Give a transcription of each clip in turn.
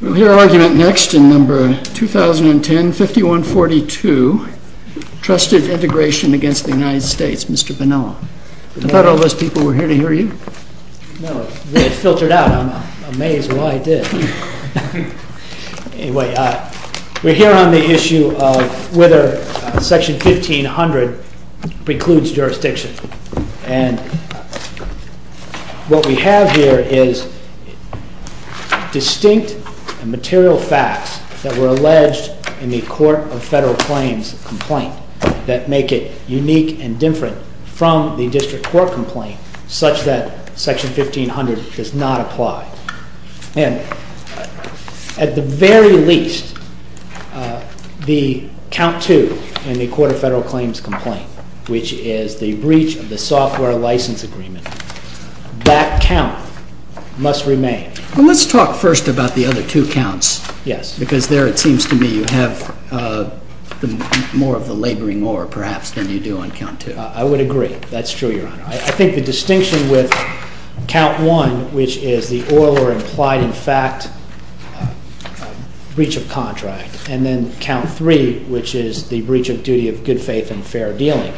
We will hear argument next in number 2010-5142, Trusted Integration against the United States. Mr. Bonilla, I thought all those people were here to hear you. No, they had filtered out. I'm amazed why I did. Anyway, we're here on the issue of whether Section 1500 precludes jurisdiction. And what we have here is distinct and material facts that were alleged in the Court of Federal Claims complaint that make it unique and different from the District Court complaint such that Section 1500 does not apply. And at the very least, the count two in the Court of Federal Claims complaint, which is the breach of the software license agreement, that count must remain. Well, let's talk first about the other two counts. Yes. Because there it seems to me you have more of the laboring or perhaps than you do on count two. I would agree. That's true, Your Honor. I think the distinction with count one, which is the oral or implied-in-fact breach of contract, and then count three, which is the breach of duty of good faith and fair dealing,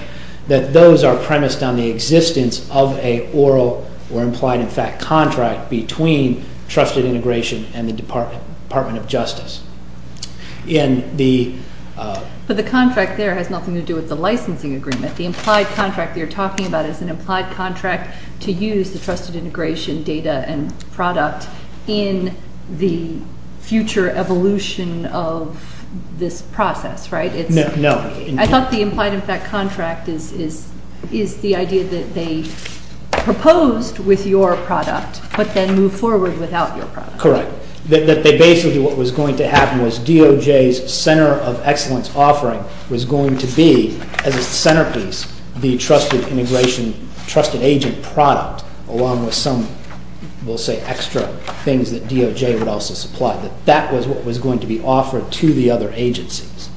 that those are premised on the existence of an oral or implied-in-fact contract between Trusted Integration and the Department of Justice. But the contract there has nothing to do with the licensing agreement. The implied contract that you're talking about is an implied contract to use the Trusted Integration data and product in the future evolution of this process, right? No. I thought the implied-in-fact contract is the idea that they proposed with your product but then moved forward without your product. Correct. That basically what was going to happen was DOJ's center of excellence offering was going to be, as a centerpiece, the Trusted Agent product along with some, we'll say, extra things that DOJ would also supply. That was what was going to be offered to the other agencies.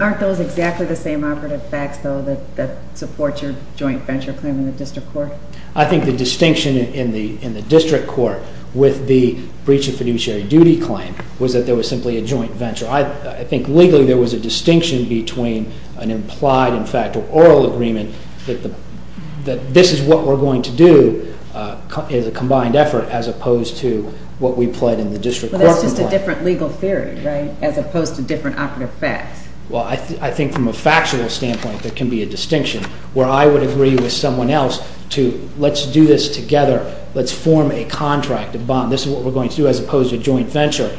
Aren't those exactly the same operative facts, though, that support your joint venture claim in the district court? I think the distinction in the district court with the breach of fiduciary duty claim was that there was simply a joint venture. I think legally there was a distinction between an implied-in-fact or oral agreement that this is what we're going to do as a combined effort as opposed to what we pled in the district court complaint. But that's just a different legal theory, right, as opposed to different operative facts. Well, I think from a factual standpoint there can be a distinction where I would agree with someone else to let's do this together. Let's form a contract, a bond. This is what we're going to do as opposed to a joint venture.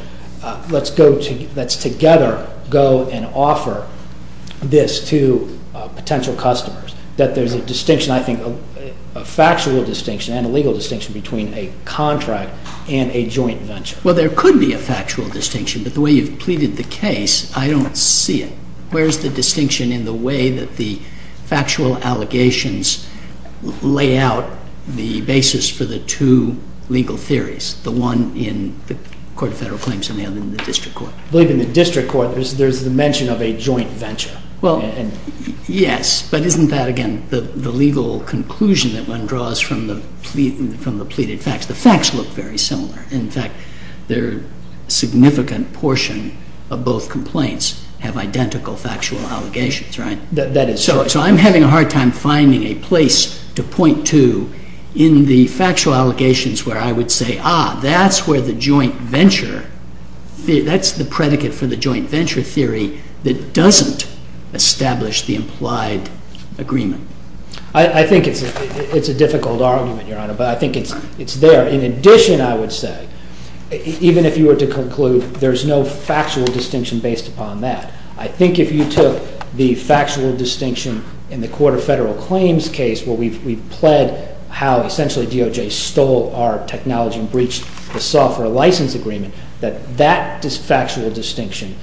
Let's together go and offer this to potential customers, that there's a distinction, I think, a factual distinction and a legal distinction between a contract and a joint venture. Well, there could be a factual distinction, but the way you've pleaded the case, I don't see it. Where's the distinction in the way that the factual allegations lay out the basis for the two legal theories, the one in the Court of Federal Claims and the other in the district court? I believe in the district court there's the mention of a joint venture. Well, yes, but isn't that, again, the legal conclusion that one draws from the pleaded facts? The facts look very similar. In fact, a significant portion of both complaints have identical factual allegations, right? That is correct. So I'm having a hard time finding a place to point to in the factual allegations where I would say, ah, that's where the joint venture, that's the predicate for the joint venture theory that doesn't establish the implied agreement. I think it's a difficult argument, Your Honor, but I think it's there. In addition, I would say, even if you were to conclude there's no factual distinction based upon that, I think if you took the factual distinction in the Court of Federal Claims case where we've pled how essentially DOJ stole our technology and breached the software license agreement, that that factual distinction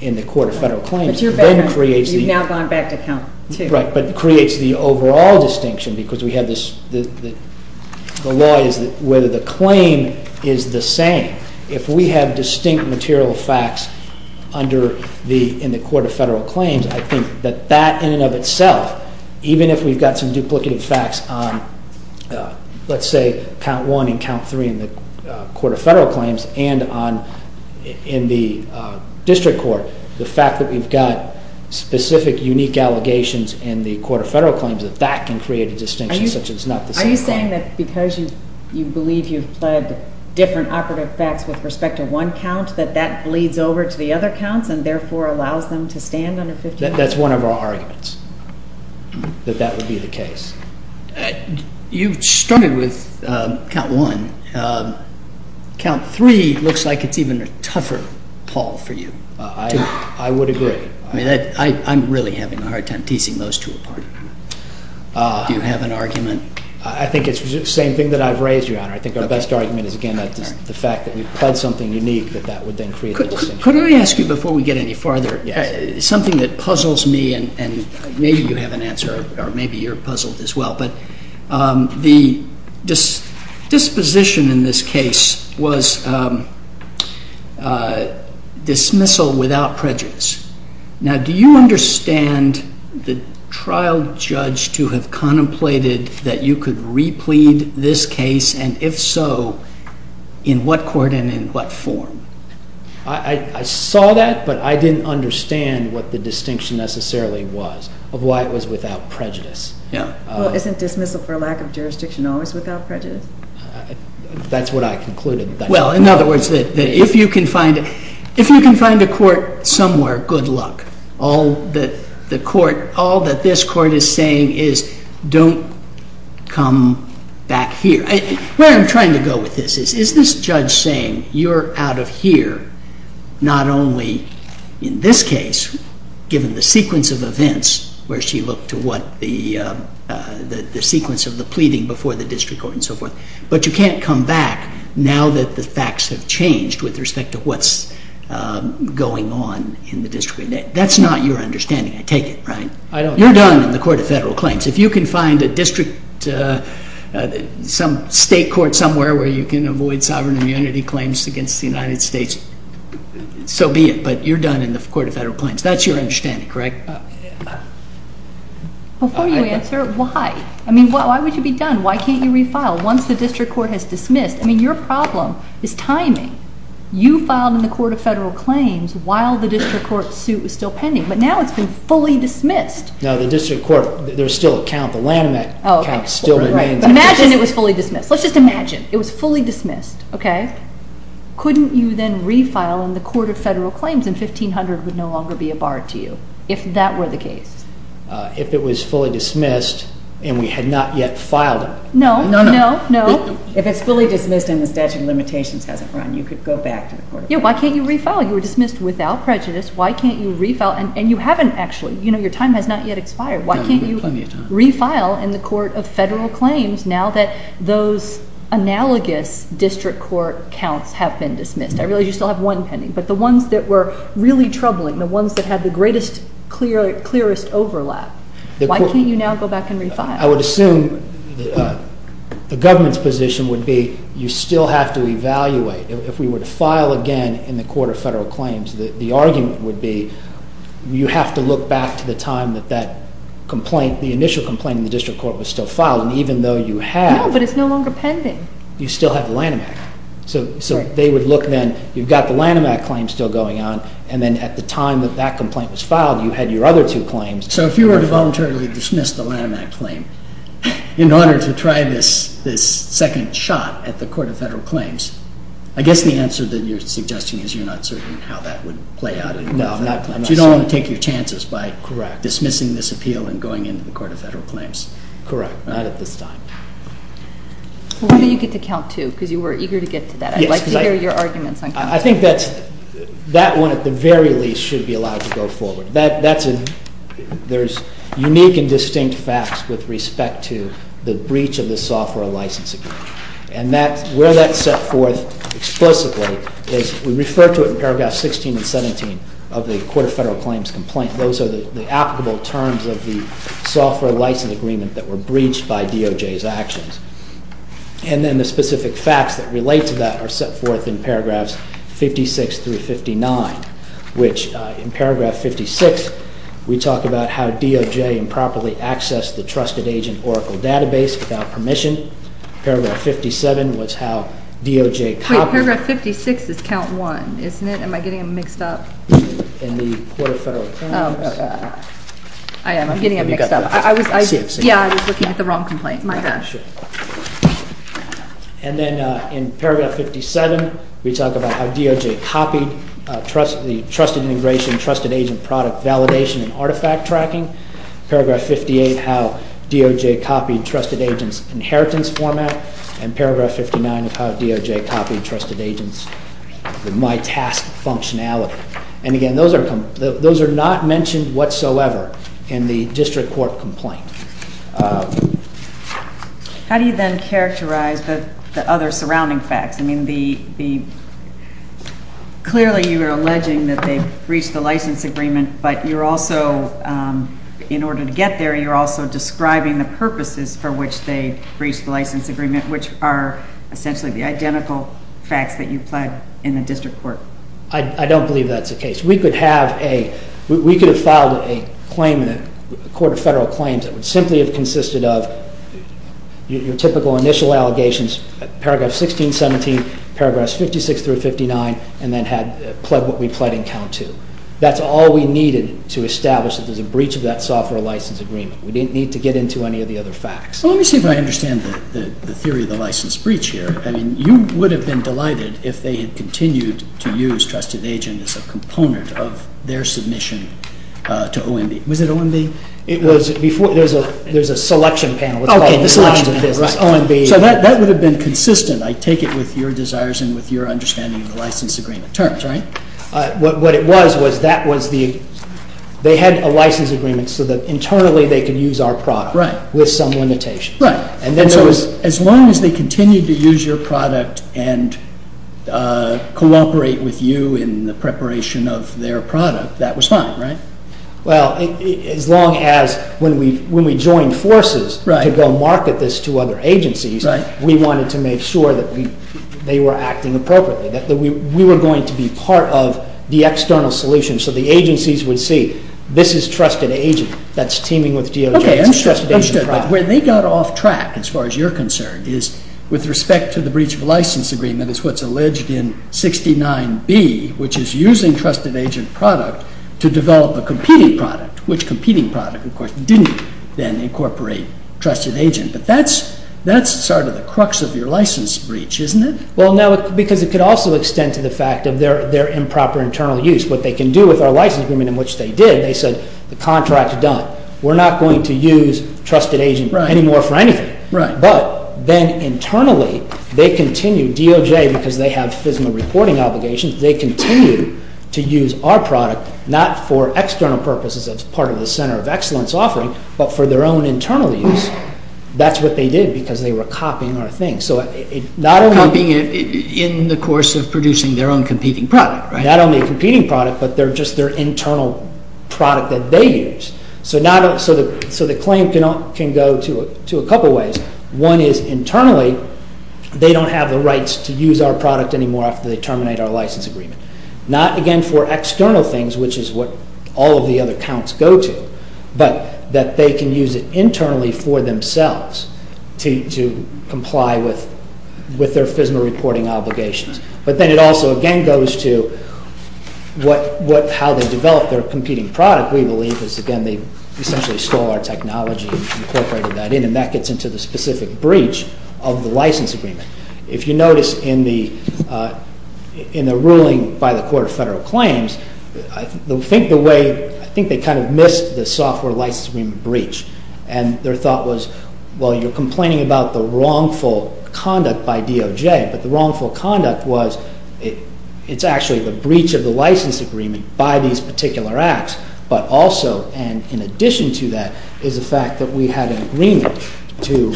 in the Court of Federal Claims then creates the… But you're better. You've now gone back to count two. Right, but creates the overall distinction because we have this… The law is whether the claim is the same. If we have distinct material facts in the Court of Federal Claims, I think that that in and of itself, even if we've got some duplicative facts on, let's say, count one and count three in the Court of Federal Claims and in the district court, the fact that we've got specific unique allegations in the Court of Federal Claims, that that can create a distinction such as not the same claim. Are you saying that because you believe you've pled different operative facts with respect to one count, that that bleeds over to the other counts and therefore allows them to stand under 50 percent? That's one of our arguments, that that would be the case. You started with count one. Count three looks like it's even a tougher call for you to… I would agree. I'm really having a hard time teasing those two apart. Do you have an argument? I think it's the same thing that I've raised, Your Honor. I think our best argument is, again, the fact that we've pled something unique, that that would then create a distinction. Could I ask you, before we get any farther, something that puzzles me and maybe you have an answer or maybe you're puzzled as well, but the disposition in this case was dismissal without prejudice. Now, do you understand the trial judge to have contemplated that you could replead this case, and if so, in what court and in what form? I saw that, but I didn't understand what the distinction necessarily was of why it was without prejudice. Well, isn't dismissal for lack of jurisdiction always without prejudice? That's what I concluded. Well, in other words, if you can find a court somewhere, good luck. All that this court is saying is don't come back here. Where I'm trying to go with this is, is this judge saying you're out of here not only in this case, given the sequence of events where she looked to what the sequence of the pleading before the district court and so forth, but you can't come back now that the facts have changed with respect to what's going on in the district. That's not your understanding. I take it, right? I don't. You're done in the court of federal claims. If you can find a district, some state court somewhere where you can avoid sovereign immunity claims against the United States, so be it, but you're done in the court of federal claims. That's your understanding, correct? Before you answer, why? I mean, why would you be done? Why can't you refile? Once the district court has dismissed, I mean, your problem is timing. You filed in the court of federal claims while the district court suit was still pending, but now it's been fully dismissed. No, the district court, there's still a count. The landmark count still remains. Imagine it was fully dismissed. Let's just imagine it was fully dismissed, okay? Couldn't you then refile in the court of federal claims and 1500 would no longer be a bar to you if that were the case? If it was fully dismissed and we had not yet filed it. No, no, no. If it's fully dismissed and the statute of limitations hasn't run, you could go back to the court of federal claims. Yeah, why can't you refile? You were dismissed without prejudice. Why can't you refile? And you haven't actually. You know, your time has not yet expired. Why can't you refile in the court of federal claims now that those analogous district court counts have been dismissed? I realize you still have one pending, but the ones that were really troubling, the ones that had the greatest, clearest overlap, why can't you now go back and refile? I would assume the government's position would be you still have to evaluate. If we were to file again in the court of federal claims, the argument would be you have to look back to the time that that complaint, the initial complaint in the district court was still filed. And even though you have. No, but it's no longer pending. You still have the Lanham Act. So they would look then. You've got the Lanham Act claim still going on. And then at the time that that complaint was filed, you had your other two claims. So if you were to voluntarily dismiss the Lanham Act claim in order to try this second shot at the court of federal claims, I guess the answer that you're suggesting is you're not certain how that would play out in the court of federal claims. No, I'm not certain. You don't want to take your chances by dismissing this appeal and going into the court of federal claims. Correct. Not at this time. Why don't you get to count two because you were eager to get to that. I'd like to hear your arguments on count two. I think that one at the very least should be allowed to go forward. There's unique and distinct facts with respect to the breach of the software license agreement. And where that's set forth explicitly is we refer to it in paragraphs 16 and 17 of the court of federal claims complaint. Those are the applicable terms of the software license agreement that were breached by DOJ's actions. And then the specific facts that relate to that are set forth in paragraphs 56 through 59, which in paragraph 56 we talk about how DOJ improperly accessed the trusted agent Oracle database without permission. Paragraph 57 was how DOJ copied. Wait, paragraph 56 is count one, isn't it? Am I getting it mixed up? In the court of federal claims. I am getting it mixed up. Yeah, I was looking at the wrong complaint. And then in paragraph 57 we talk about how DOJ copied trusted integration, trusted agent product validation and artifact tracking. Paragraph 58, how DOJ copied trusted agent's inheritance format. And paragraph 59 is how DOJ copied trusted agent's MyTask functionality. And again, those are not mentioned whatsoever in the district court complaint. How do you then characterize the other surrounding facts? I mean, clearly you are alleging that they breached the license agreement, but you're also, in order to get there, you're also describing the purposes for which they breached the license agreement, which are essentially the identical facts that you applied in the district court. I don't believe that's the case. We could have filed a claim in the court of federal claims that would simply have consisted of your typical initial allegations, paragraph 16, 17, paragraphs 56 through 59, and then had pled what we pled in count two. That's all we needed to establish that there's a breach of that software license agreement. We didn't need to get into any of the other facts. Well, let me see if I understand the theory of the license breach here. I mean, you would have been delighted if they had continued to use trusted agent as a component of their submission to OMB. Was it OMB? It was. There's a selection panel. Okay, the selection panel. OMB. So that would have been consistent, I take it, with your desires and with your understanding of the license agreement terms, right? What it was was they had a license agreement so that internally they could use our product with some limitation. Right. As long as they continued to use your product and cooperate with you in the preparation of their product, that was fine, right? Well, as long as when we joined forces to go market this to other agencies, we wanted to make sure that they were acting appropriately, that we were going to be part of the external solution so the agencies would see this is trusted agent that's teaming with DOJ. Okay, understood. When they got off track, as far as you're concerned, is with respect to the breach of license agreement, which is what's alleged in 69B, which is using trusted agent product to develop a competing product, which competing product, of course, didn't then incorporate trusted agent. But that's sort of the crux of your license breach, isn't it? Well, no, because it could also extend to the fact of their improper internal use. What they can do with our license agreement, in which they did, they said the contract is done. We're not going to use trusted agent anymore for anything. Right. But then internally, they continue, DOJ, because they have FISMA reporting obligations, they continue to use our product not for external purposes as part of the center of excellence offering, but for their own internal use. That's what they did because they were copying our thing. Copying in the course of producing their own competing product, right? Not only a competing product, but just their internal product that they use. So the claim can go to a couple ways. One is internally, they don't have the rights to use our product anymore after they terminate our license agreement. Not, again, for external things, which is what all of the other counts go to, but that they can use it internally for themselves to comply with their FISMA reporting obligations. But then it also, again, goes to how they develop their competing product, we believe, because, again, they essentially stole our technology and incorporated that in, and that gets into the specific breach of the license agreement. If you notice in the ruling by the Court of Federal Claims, I think they kind of missed the software license agreement breach, and their thought was, well, you're complaining about the wrongful conduct by DOJ, but the wrongful conduct was it's actually the breach of the license agreement by these particular acts, but also, and in addition to that, is the fact that we had an agreement to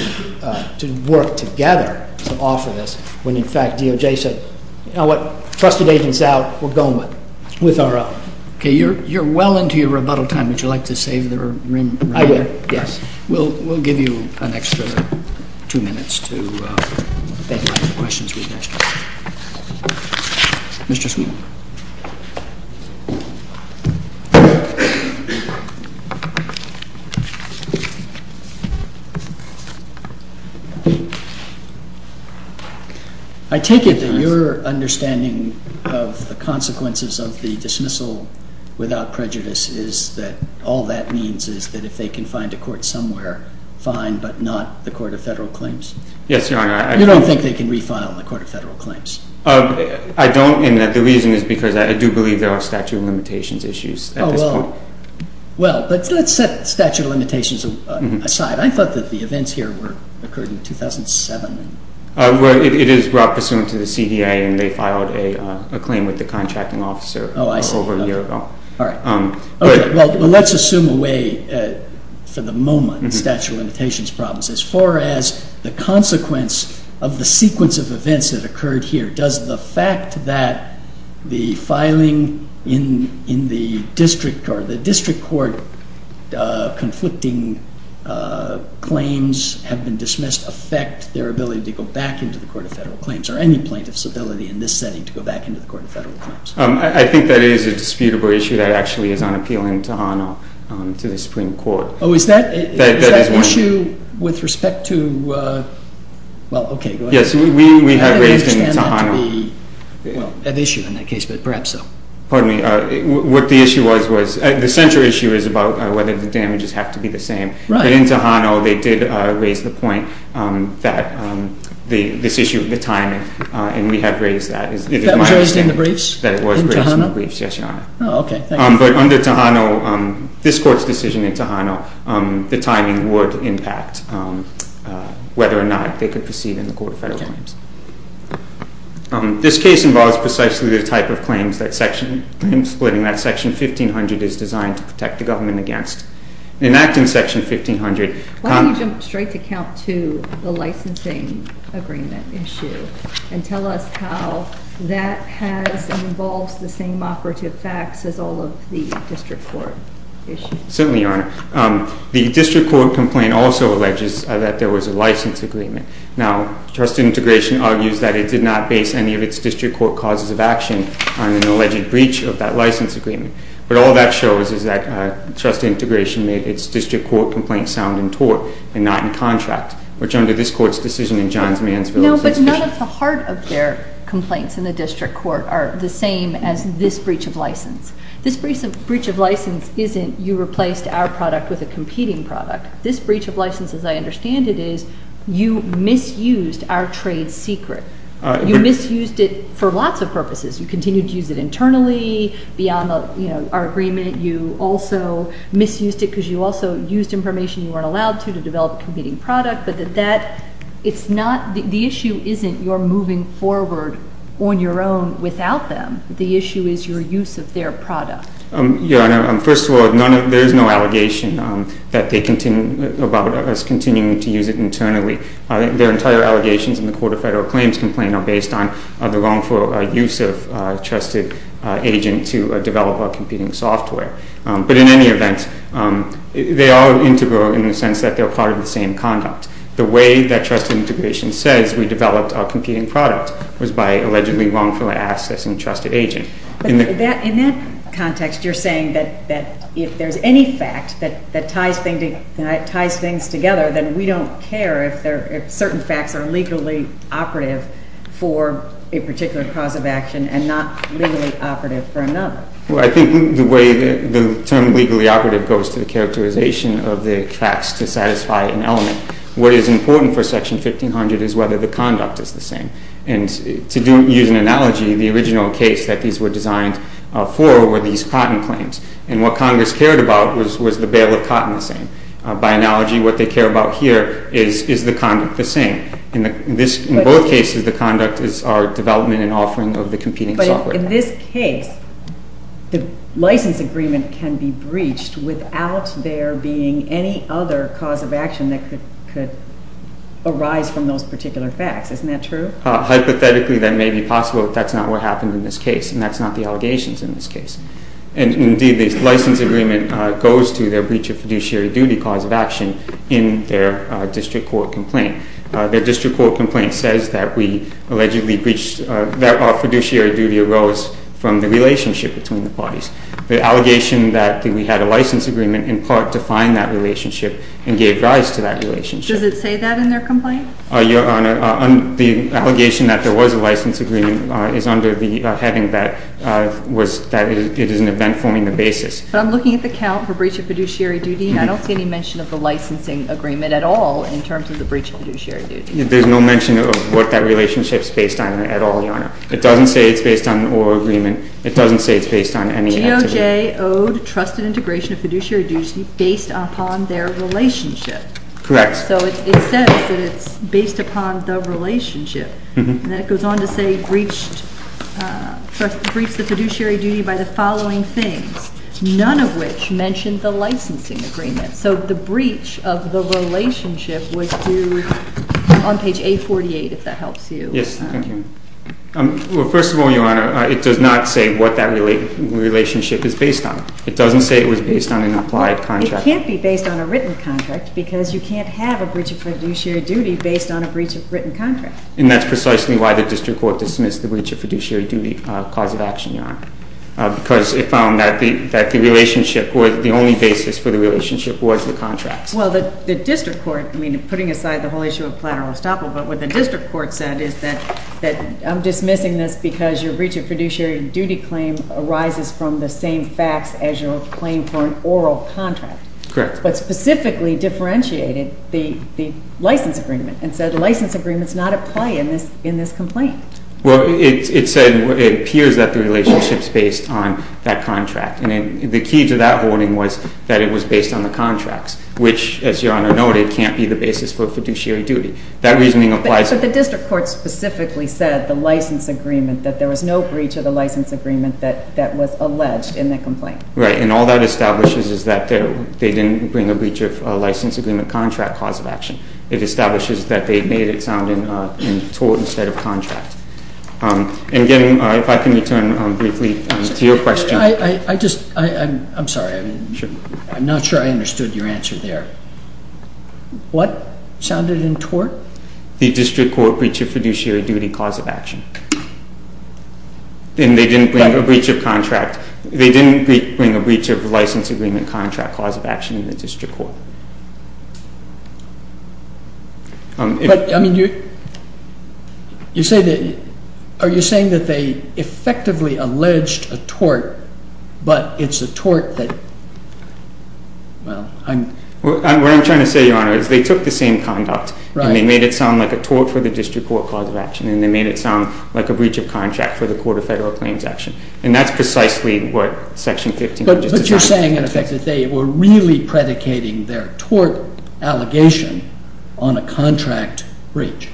work together to offer this, when, in fact, DOJ said, you know what? Trusted agent's out. We're going with our own. Okay. You're well into your rebuttal time. Would you like to save the room? I would, yes. We'll give you an extra two minutes to think about your questions. Mr. Sweeney. I take it that your understanding of the consequences of the dismissal without prejudice is that all that means is that if they can find a court somewhere, fine, but not the Court of Federal Claims? Yes, Your Honor. You don't think they can refile in the Court of Federal Claims? I don't, and the reason is because I do believe there are statute of limitations issues at this point. Well, let's set statute of limitations aside. I thought that the events here occurred in 2007. It is brought pursuant to the CDA, and they filed a claim with the contracting officer over a year ago. All right. Well, let's assume away for the moment statute of limitations problems. As far as the consequence of the sequence of events that occurred here, does the fact that the filing in the district court conflicting claims have been dismissed affect their ability to go back into the Court of Federal Claims or any plaintiff's ability in this setting to go back into the Court of Federal Claims? I think that is a disputable issue that actually is on appeal in Tohono to the Supreme Court. Oh, is that issue with respect to, well, okay, go ahead. Yes, we have raised in Tohono. I don't understand that to be an issue in that case, but perhaps so. Pardon me. What the issue was, was the central issue is about whether the damages have to be the same. Right. But in Tohono, they did raise the point that this issue of the time, and we have raised that. That was raised in the briefs? That it was raised in the briefs. In Tohono? Yes, Your Honor. Oh, okay. But under Tohono, this Court's decision in Tohono, the timing would impact whether or not they could proceed in the Court of Federal Claims. Okay. This case involves precisely the type of claims that section, claims splitting that Section 1500 is designed to protect the government against. In acting Section 1500. Why don't you jump straight to count two, the licensing agreement issue, and tell us how that has, involves the same operative facts as all of the district court issues. Certainly, Your Honor. The district court complaint also alleges that there was a license agreement. Now, trust integration argues that it did not base any of its district court causes of action on an alleged breach of that license agreement. But all that shows is that trust integration made its district court complaint sound in tort and not in contract, which under this Court's decision in Johns Mansfield. No, but none of the heart of their complaints in the district court are the same as this breach of license. This breach of license isn't you replaced our product with a competing product. This breach of license, as I understand it, is you misused our trade secret. You misused it for lots of purposes. You continued to use it internally beyond our agreement. You also misused it because you also used information you weren't allowed to to develop a competing product. But the issue isn't your moving forward on your own without them. The issue is your use of their product. Your Honor, first of all, there is no allegation about us continuing to use it internally. Their entire allegations in the Court of Federal Claims Complaint are based on the wrongful use of trusted agent to develop our competing software. But in any event, they are integral in the sense that they're part of the same conduct. The way that trust integration says we developed our competing product was by allegedly wrongfully accessing trusted agent. In that context, you're saying that if there's any fact that ties things together, then we don't care if certain facts are legally operative for a particular cause of action and not legally operative for another. Well, I think the term legally operative goes to the characterization of the facts to satisfy an element. What is important for Section 1500 is whether the conduct is the same. And to use an analogy, the original case that these were designed for were these cotton claims. And what Congress cared about was the bale of cotton the same. By analogy, what they care about here is is the conduct the same. In both cases, the conduct is our development and offering of the competing software. But in this case, the license agreement can be breached without there being any other cause of action that could arise from those particular facts. Isn't that true? Hypothetically, that may be possible, but that's not what happened in this case. And that's not the allegations in this case. And indeed, the license agreement goes to their breach of fiduciary duty cause of action in their district court complaint. Their district court complaint says that we allegedly breached – that our fiduciary duty arose from the relationship between the parties. The allegation that we had a license agreement in part defined that relationship and gave rise to that relationship. Does it say that in their complaint? Your Honor, the allegation that there was a license agreement is under the heading that it is an event forming the basis. But I'm looking at the count for breach of fiduciary duty, and I don't see any mention of the licensing agreement at all in terms of the breach of fiduciary duty. There's no mention of what that relationship is based on at all, Your Honor. It doesn't say it's based on an oral agreement. It doesn't say it's based on any activity. GOJ owed trusted integration of fiduciary duty based upon their relationship. Correct. So it says that it's based upon the relationship. And then it goes on to say breached – breached the fiduciary duty by the following things, none of which mention the licensing agreement. So the breach of the relationship was to – on page 848, if that helps you. Yes, thank you. Well, first of all, Your Honor, it does not say what that relationship is based on. It doesn't say it was based on an applied contract. It can't be based on a written contract because you can't have a breach of fiduciary duty based on a breach of written contract. And that's precisely why the district court dismissed the breach of fiduciary duty cause of action, Your Honor, because it found that the relationship was – the only basis for the relationship was the contract. Well, the district court – I mean, putting aside the whole issue of platero-estoppel, what the district court said is that I'm dismissing this because your breach of fiduciary duty claim arises from the same facts as your claim for an oral contract. Correct. But specifically differentiated the license agreement and said the license agreement's not at play in this complaint. Well, it said – it appears that the relationship's based on that contract. And the key to that holding was that it was based on the contracts, which, as Your Honor noted, can't be the basis for fiduciary duty. That reasoning applies – But the district court specifically said the license agreement, that there was no breach of the license agreement that was alleged in the complaint. Right. And all that establishes is that they didn't bring a breach of license agreement contract cause of action. It establishes that they made it sound in tort instead of contract. And, again, if I can return briefly to your question – I just – I'm sorry. I'm not sure I understood your answer there. What sounded in tort? The district court breach of fiduciary duty cause of action. And they didn't bring a breach of contract. They didn't bring a breach of license agreement contract cause of action in the district court. But, I mean, you say that – are you saying that they effectively alleged a tort, but it's a tort that – well, I'm – What I'm trying to say, Your Honor, is they took the same conduct – Right. And they made it sound like a tort for the district court cause of action. And they made it sound like a breach of contract for the Court of Federal Claims action. And that's precisely what Section 15 of the Justice Act – But you're saying, in effect, that they were really predicating their tort allegation on a contract breach.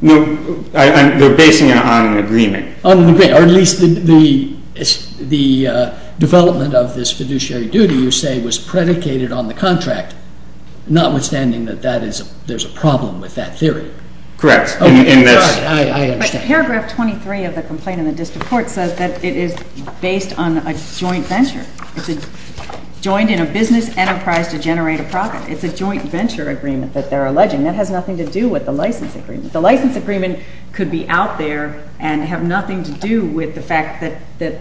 No. They're basing it on an agreement. On an agreement. Or at least the development of this fiduciary duty, you say, was predicated on the contract, notwithstanding that there's a problem with that theory. Correct. In this – I understand. But paragraph 23 of the complaint in the district court says that it is based on a joint venture. It's joined in a business enterprise to generate a profit. It's a joint venture agreement that they're alleging. That has nothing to do with the license agreement. The license agreement could be out there and have nothing to do with the fact that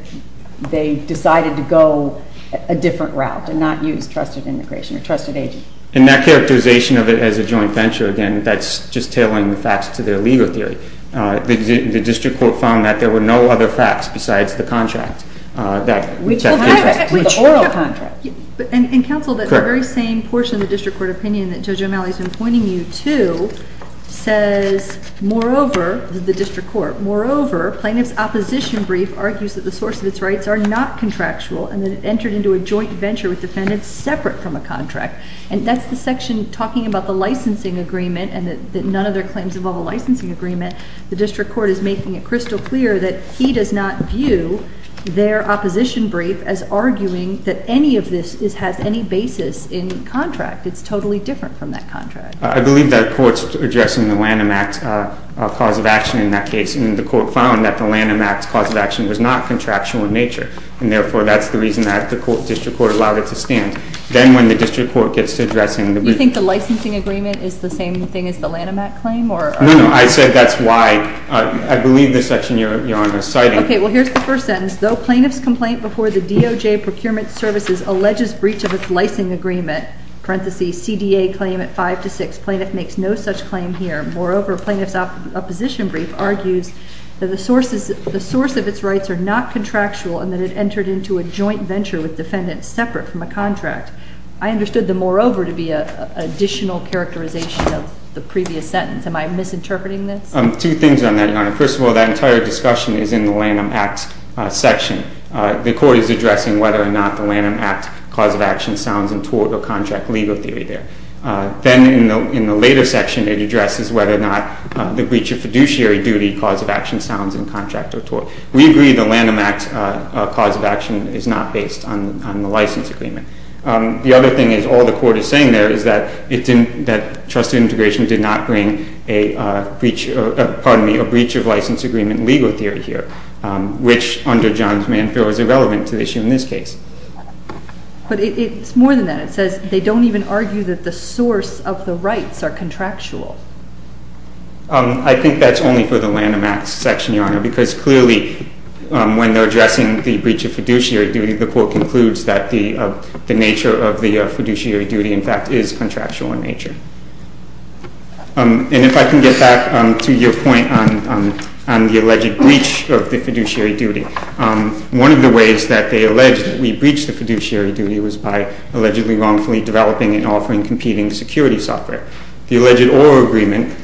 they decided to go a different route and not use trusted immigration or trusted agents. And that characterization of it as a joint venture, again, that's just tailoring the facts to their legal theory. The district court found that there were no other facts besides the contract that – Which – The oral contract. And, counsel, that very same portion of the district court opinion that Judge O'Malley has been pointing you to says, moreover – the district court – moreover, plaintiff's opposition brief argues that the source of its rights are not contractual and that it entered into a joint venture with defendants separate from a contract. And that's the section talking about the licensing agreement and that none of their claims involve a licensing agreement. The district court is making it crystal clear that he does not view their opposition brief as arguing that any of this has any basis in contract. It's totally different from that contract. I believe that the court's addressing the Lanham Act's cause of action in that case. And the court found that the Lanham Act's cause of action was not contractual in nature. And, therefore, that's the reason that the district court allowed it to stand. Then when the district court gets to addressing the – You think the licensing agreement is the same thing as the Lanham Act claim or – No, no, I said that's why. I believe this section you're citing – Okay, well, here's the first sentence. Though plaintiff's complaint before the DOJ procurement services alleges breach of its licensing agreement, parentheses, CDA claim at 5 to 6, plaintiff makes no such claim here. Moreover, plaintiff's opposition brief argues that the source of its rights are not contractual and that it entered into a joint venture with defendants separate from a contract. I understood the moreover to be an additional characterization of the previous sentence. Am I misinterpreting this? Two things on that, Your Honor. First of all, that entire discussion is in the Lanham Act section. The court is addressing whether or not the Lanham Act cause of action sounds in tort or contract legal theory there. Then in the later section, it addresses whether or not the breach of fiduciary duty cause of action sounds in contract or tort. We agree the Lanham Act cause of action is not based on the license agreement. The other thing is all the court is saying there is that trusted integration did not bring a breach of license agreement legal theory here, which under John's Manfield is irrelevant to the issue in this case. But it's more than that. It says they don't even argue that the source of the rights are contractual. I think that's only for the Lanham Act section, Your Honor, because clearly when they're addressing the breach of fiduciary duty, the court concludes that the nature of the fiduciary duty, in fact, is contractual in nature. And if I can get back to your point on the alleged breach of the fiduciary duty, one of the ways that they allege that we breached the fiduciary duty was by allegedly wrongfully developing and offering competing security software. The alleged oral agreement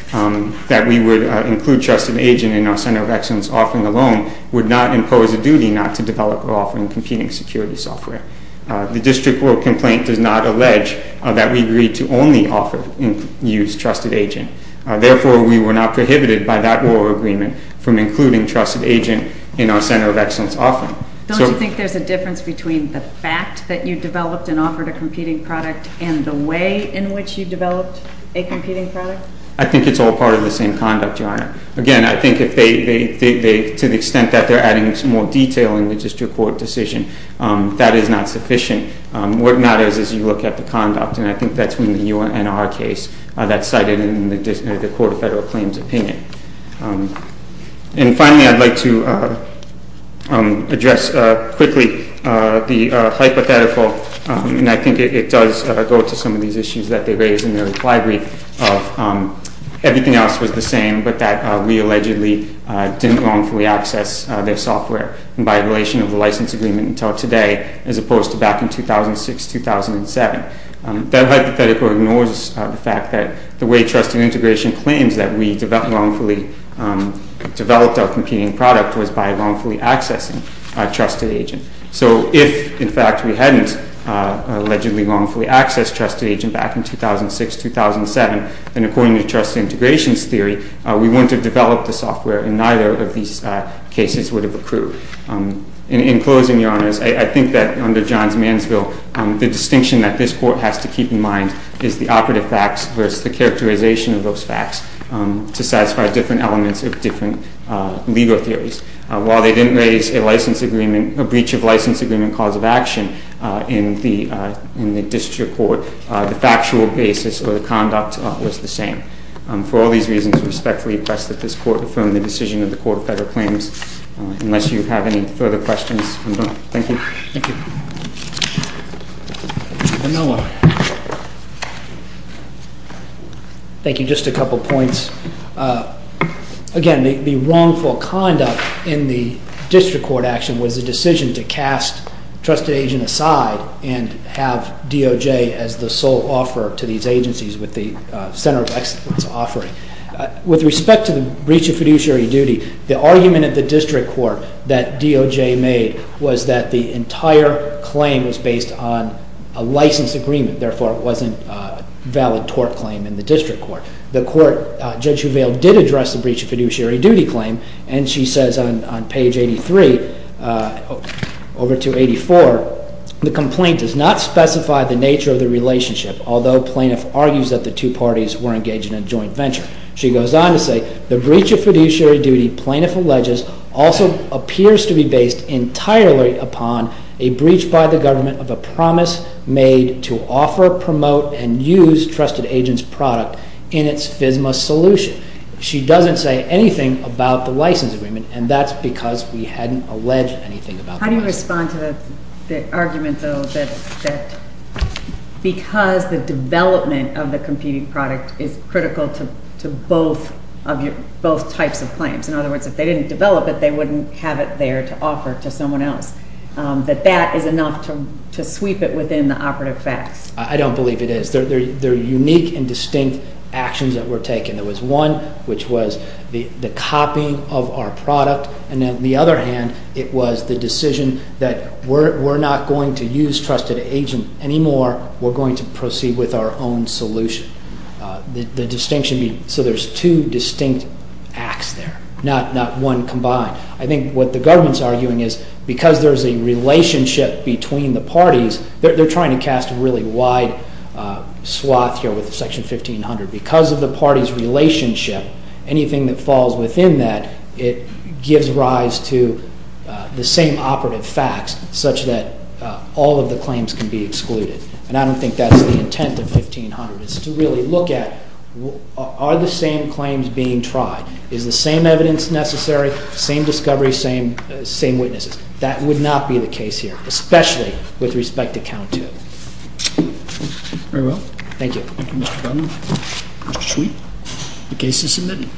that we would include trusted agent in our center of excellence offering alone would not impose a duty not to develop or offer in competing security software. The district court complaint does not allege that we agreed to only offer and use trusted agent. Therefore, we were not prohibited by that oral agreement from including trusted agent in our center of excellence offering. Don't you think there's a difference between the fact that you developed and offered a competing product and the way in which you developed a competing product? I think it's all part of the same conduct, Your Honor. Again, I think to the extent that they're adding more detail in the district court decision, that is not sufficient. What matters is you look at the conduct, and I think that's when the UNR case, that's cited in the court of federal claims opinion. And finally, I'd like to address quickly the hypothetical, and I think it does go to some of these issues that they raised in their reply brief, of everything else was the same but that we allegedly didn't wrongfully access their software by violation of the license agreement until today as opposed to back in 2006, 2007. That hypothetical ignores the fact that the way trusted integration claims that we wrongfully developed our competing product was by wrongfully accessing a trusted agent. So if, in fact, we hadn't allegedly wrongfully accessed trusted agent back in 2006, 2007, then according to trust integrations theory, we wouldn't have developed the software, and neither of these cases would have accrued. In closing, Your Honors, I think that under John's Mansville, the distinction that this court has to keep in mind is the operative facts versus the characterization of those facts to satisfy different elements of different legal theories. While they didn't raise a license agreement, a breach of license agreement cause of action in the district court, the factual basis of the conduct was the same. For all these reasons, I respectfully request that this court affirm the decision of the Court of Federal Claims. Unless you have any further questions, I'm done. Thank you. Thank you. Vanilla. Thank you. Just a couple points. Again, the wrongful conduct in the district court action was a decision to cast trusted agent aside and have DOJ as the sole offerer to these agencies with the center of excellence offering. With respect to the breach of fiduciary duty, the argument at the district court that DOJ made was that the entire claim was based on a license agreement. Therefore, it wasn't a valid tort claim in the district court. The court did address the breach of fiduciary duty claim, and she says on page 83 over to 84, the complaint does not specify the nature of the relationship, although plaintiff argues that the two parties were engaged in a joint venture. She goes on to say, the breach of fiduciary duty plaintiff alleges also appears to be based entirely upon a breach by the government of a promise made to offer, promote, and use trusted agent's product in its FSMA solution. She doesn't say anything about the license agreement, and that's because we hadn't alleged anything about that. How do you respond to the argument, though, that because the development of the competing product is critical to both types of claims, in other words, if they didn't develop it, they wouldn't have it there to offer to someone else, that that is enough to sweep it within the operative facts? I don't believe it is. There are unique and distinct actions that were taken. There was one, which was the copying of our product, and on the other hand, it was the decision that we're not going to use trusted agent anymore. We're going to proceed with our own solution. The distinction, so there's two distinct acts there, not one combined. I think what the government's arguing is because there's a relationship between the parties, they're trying to cast a really wide swath here with Section 1500. Because of the party's relationship, anything that falls within that, it gives rise to the same operative facts such that all of the claims can be excluded, and I don't think that's the intent of 1500. It's to really look at are the same claims being tried? Is the same evidence necessary? Same discovery? Same witnesses? That would not be the case here, especially with respect to count two. Very well. Thank you. Thank you, Mr. Budden. Mr. Sweet, the case is submitted.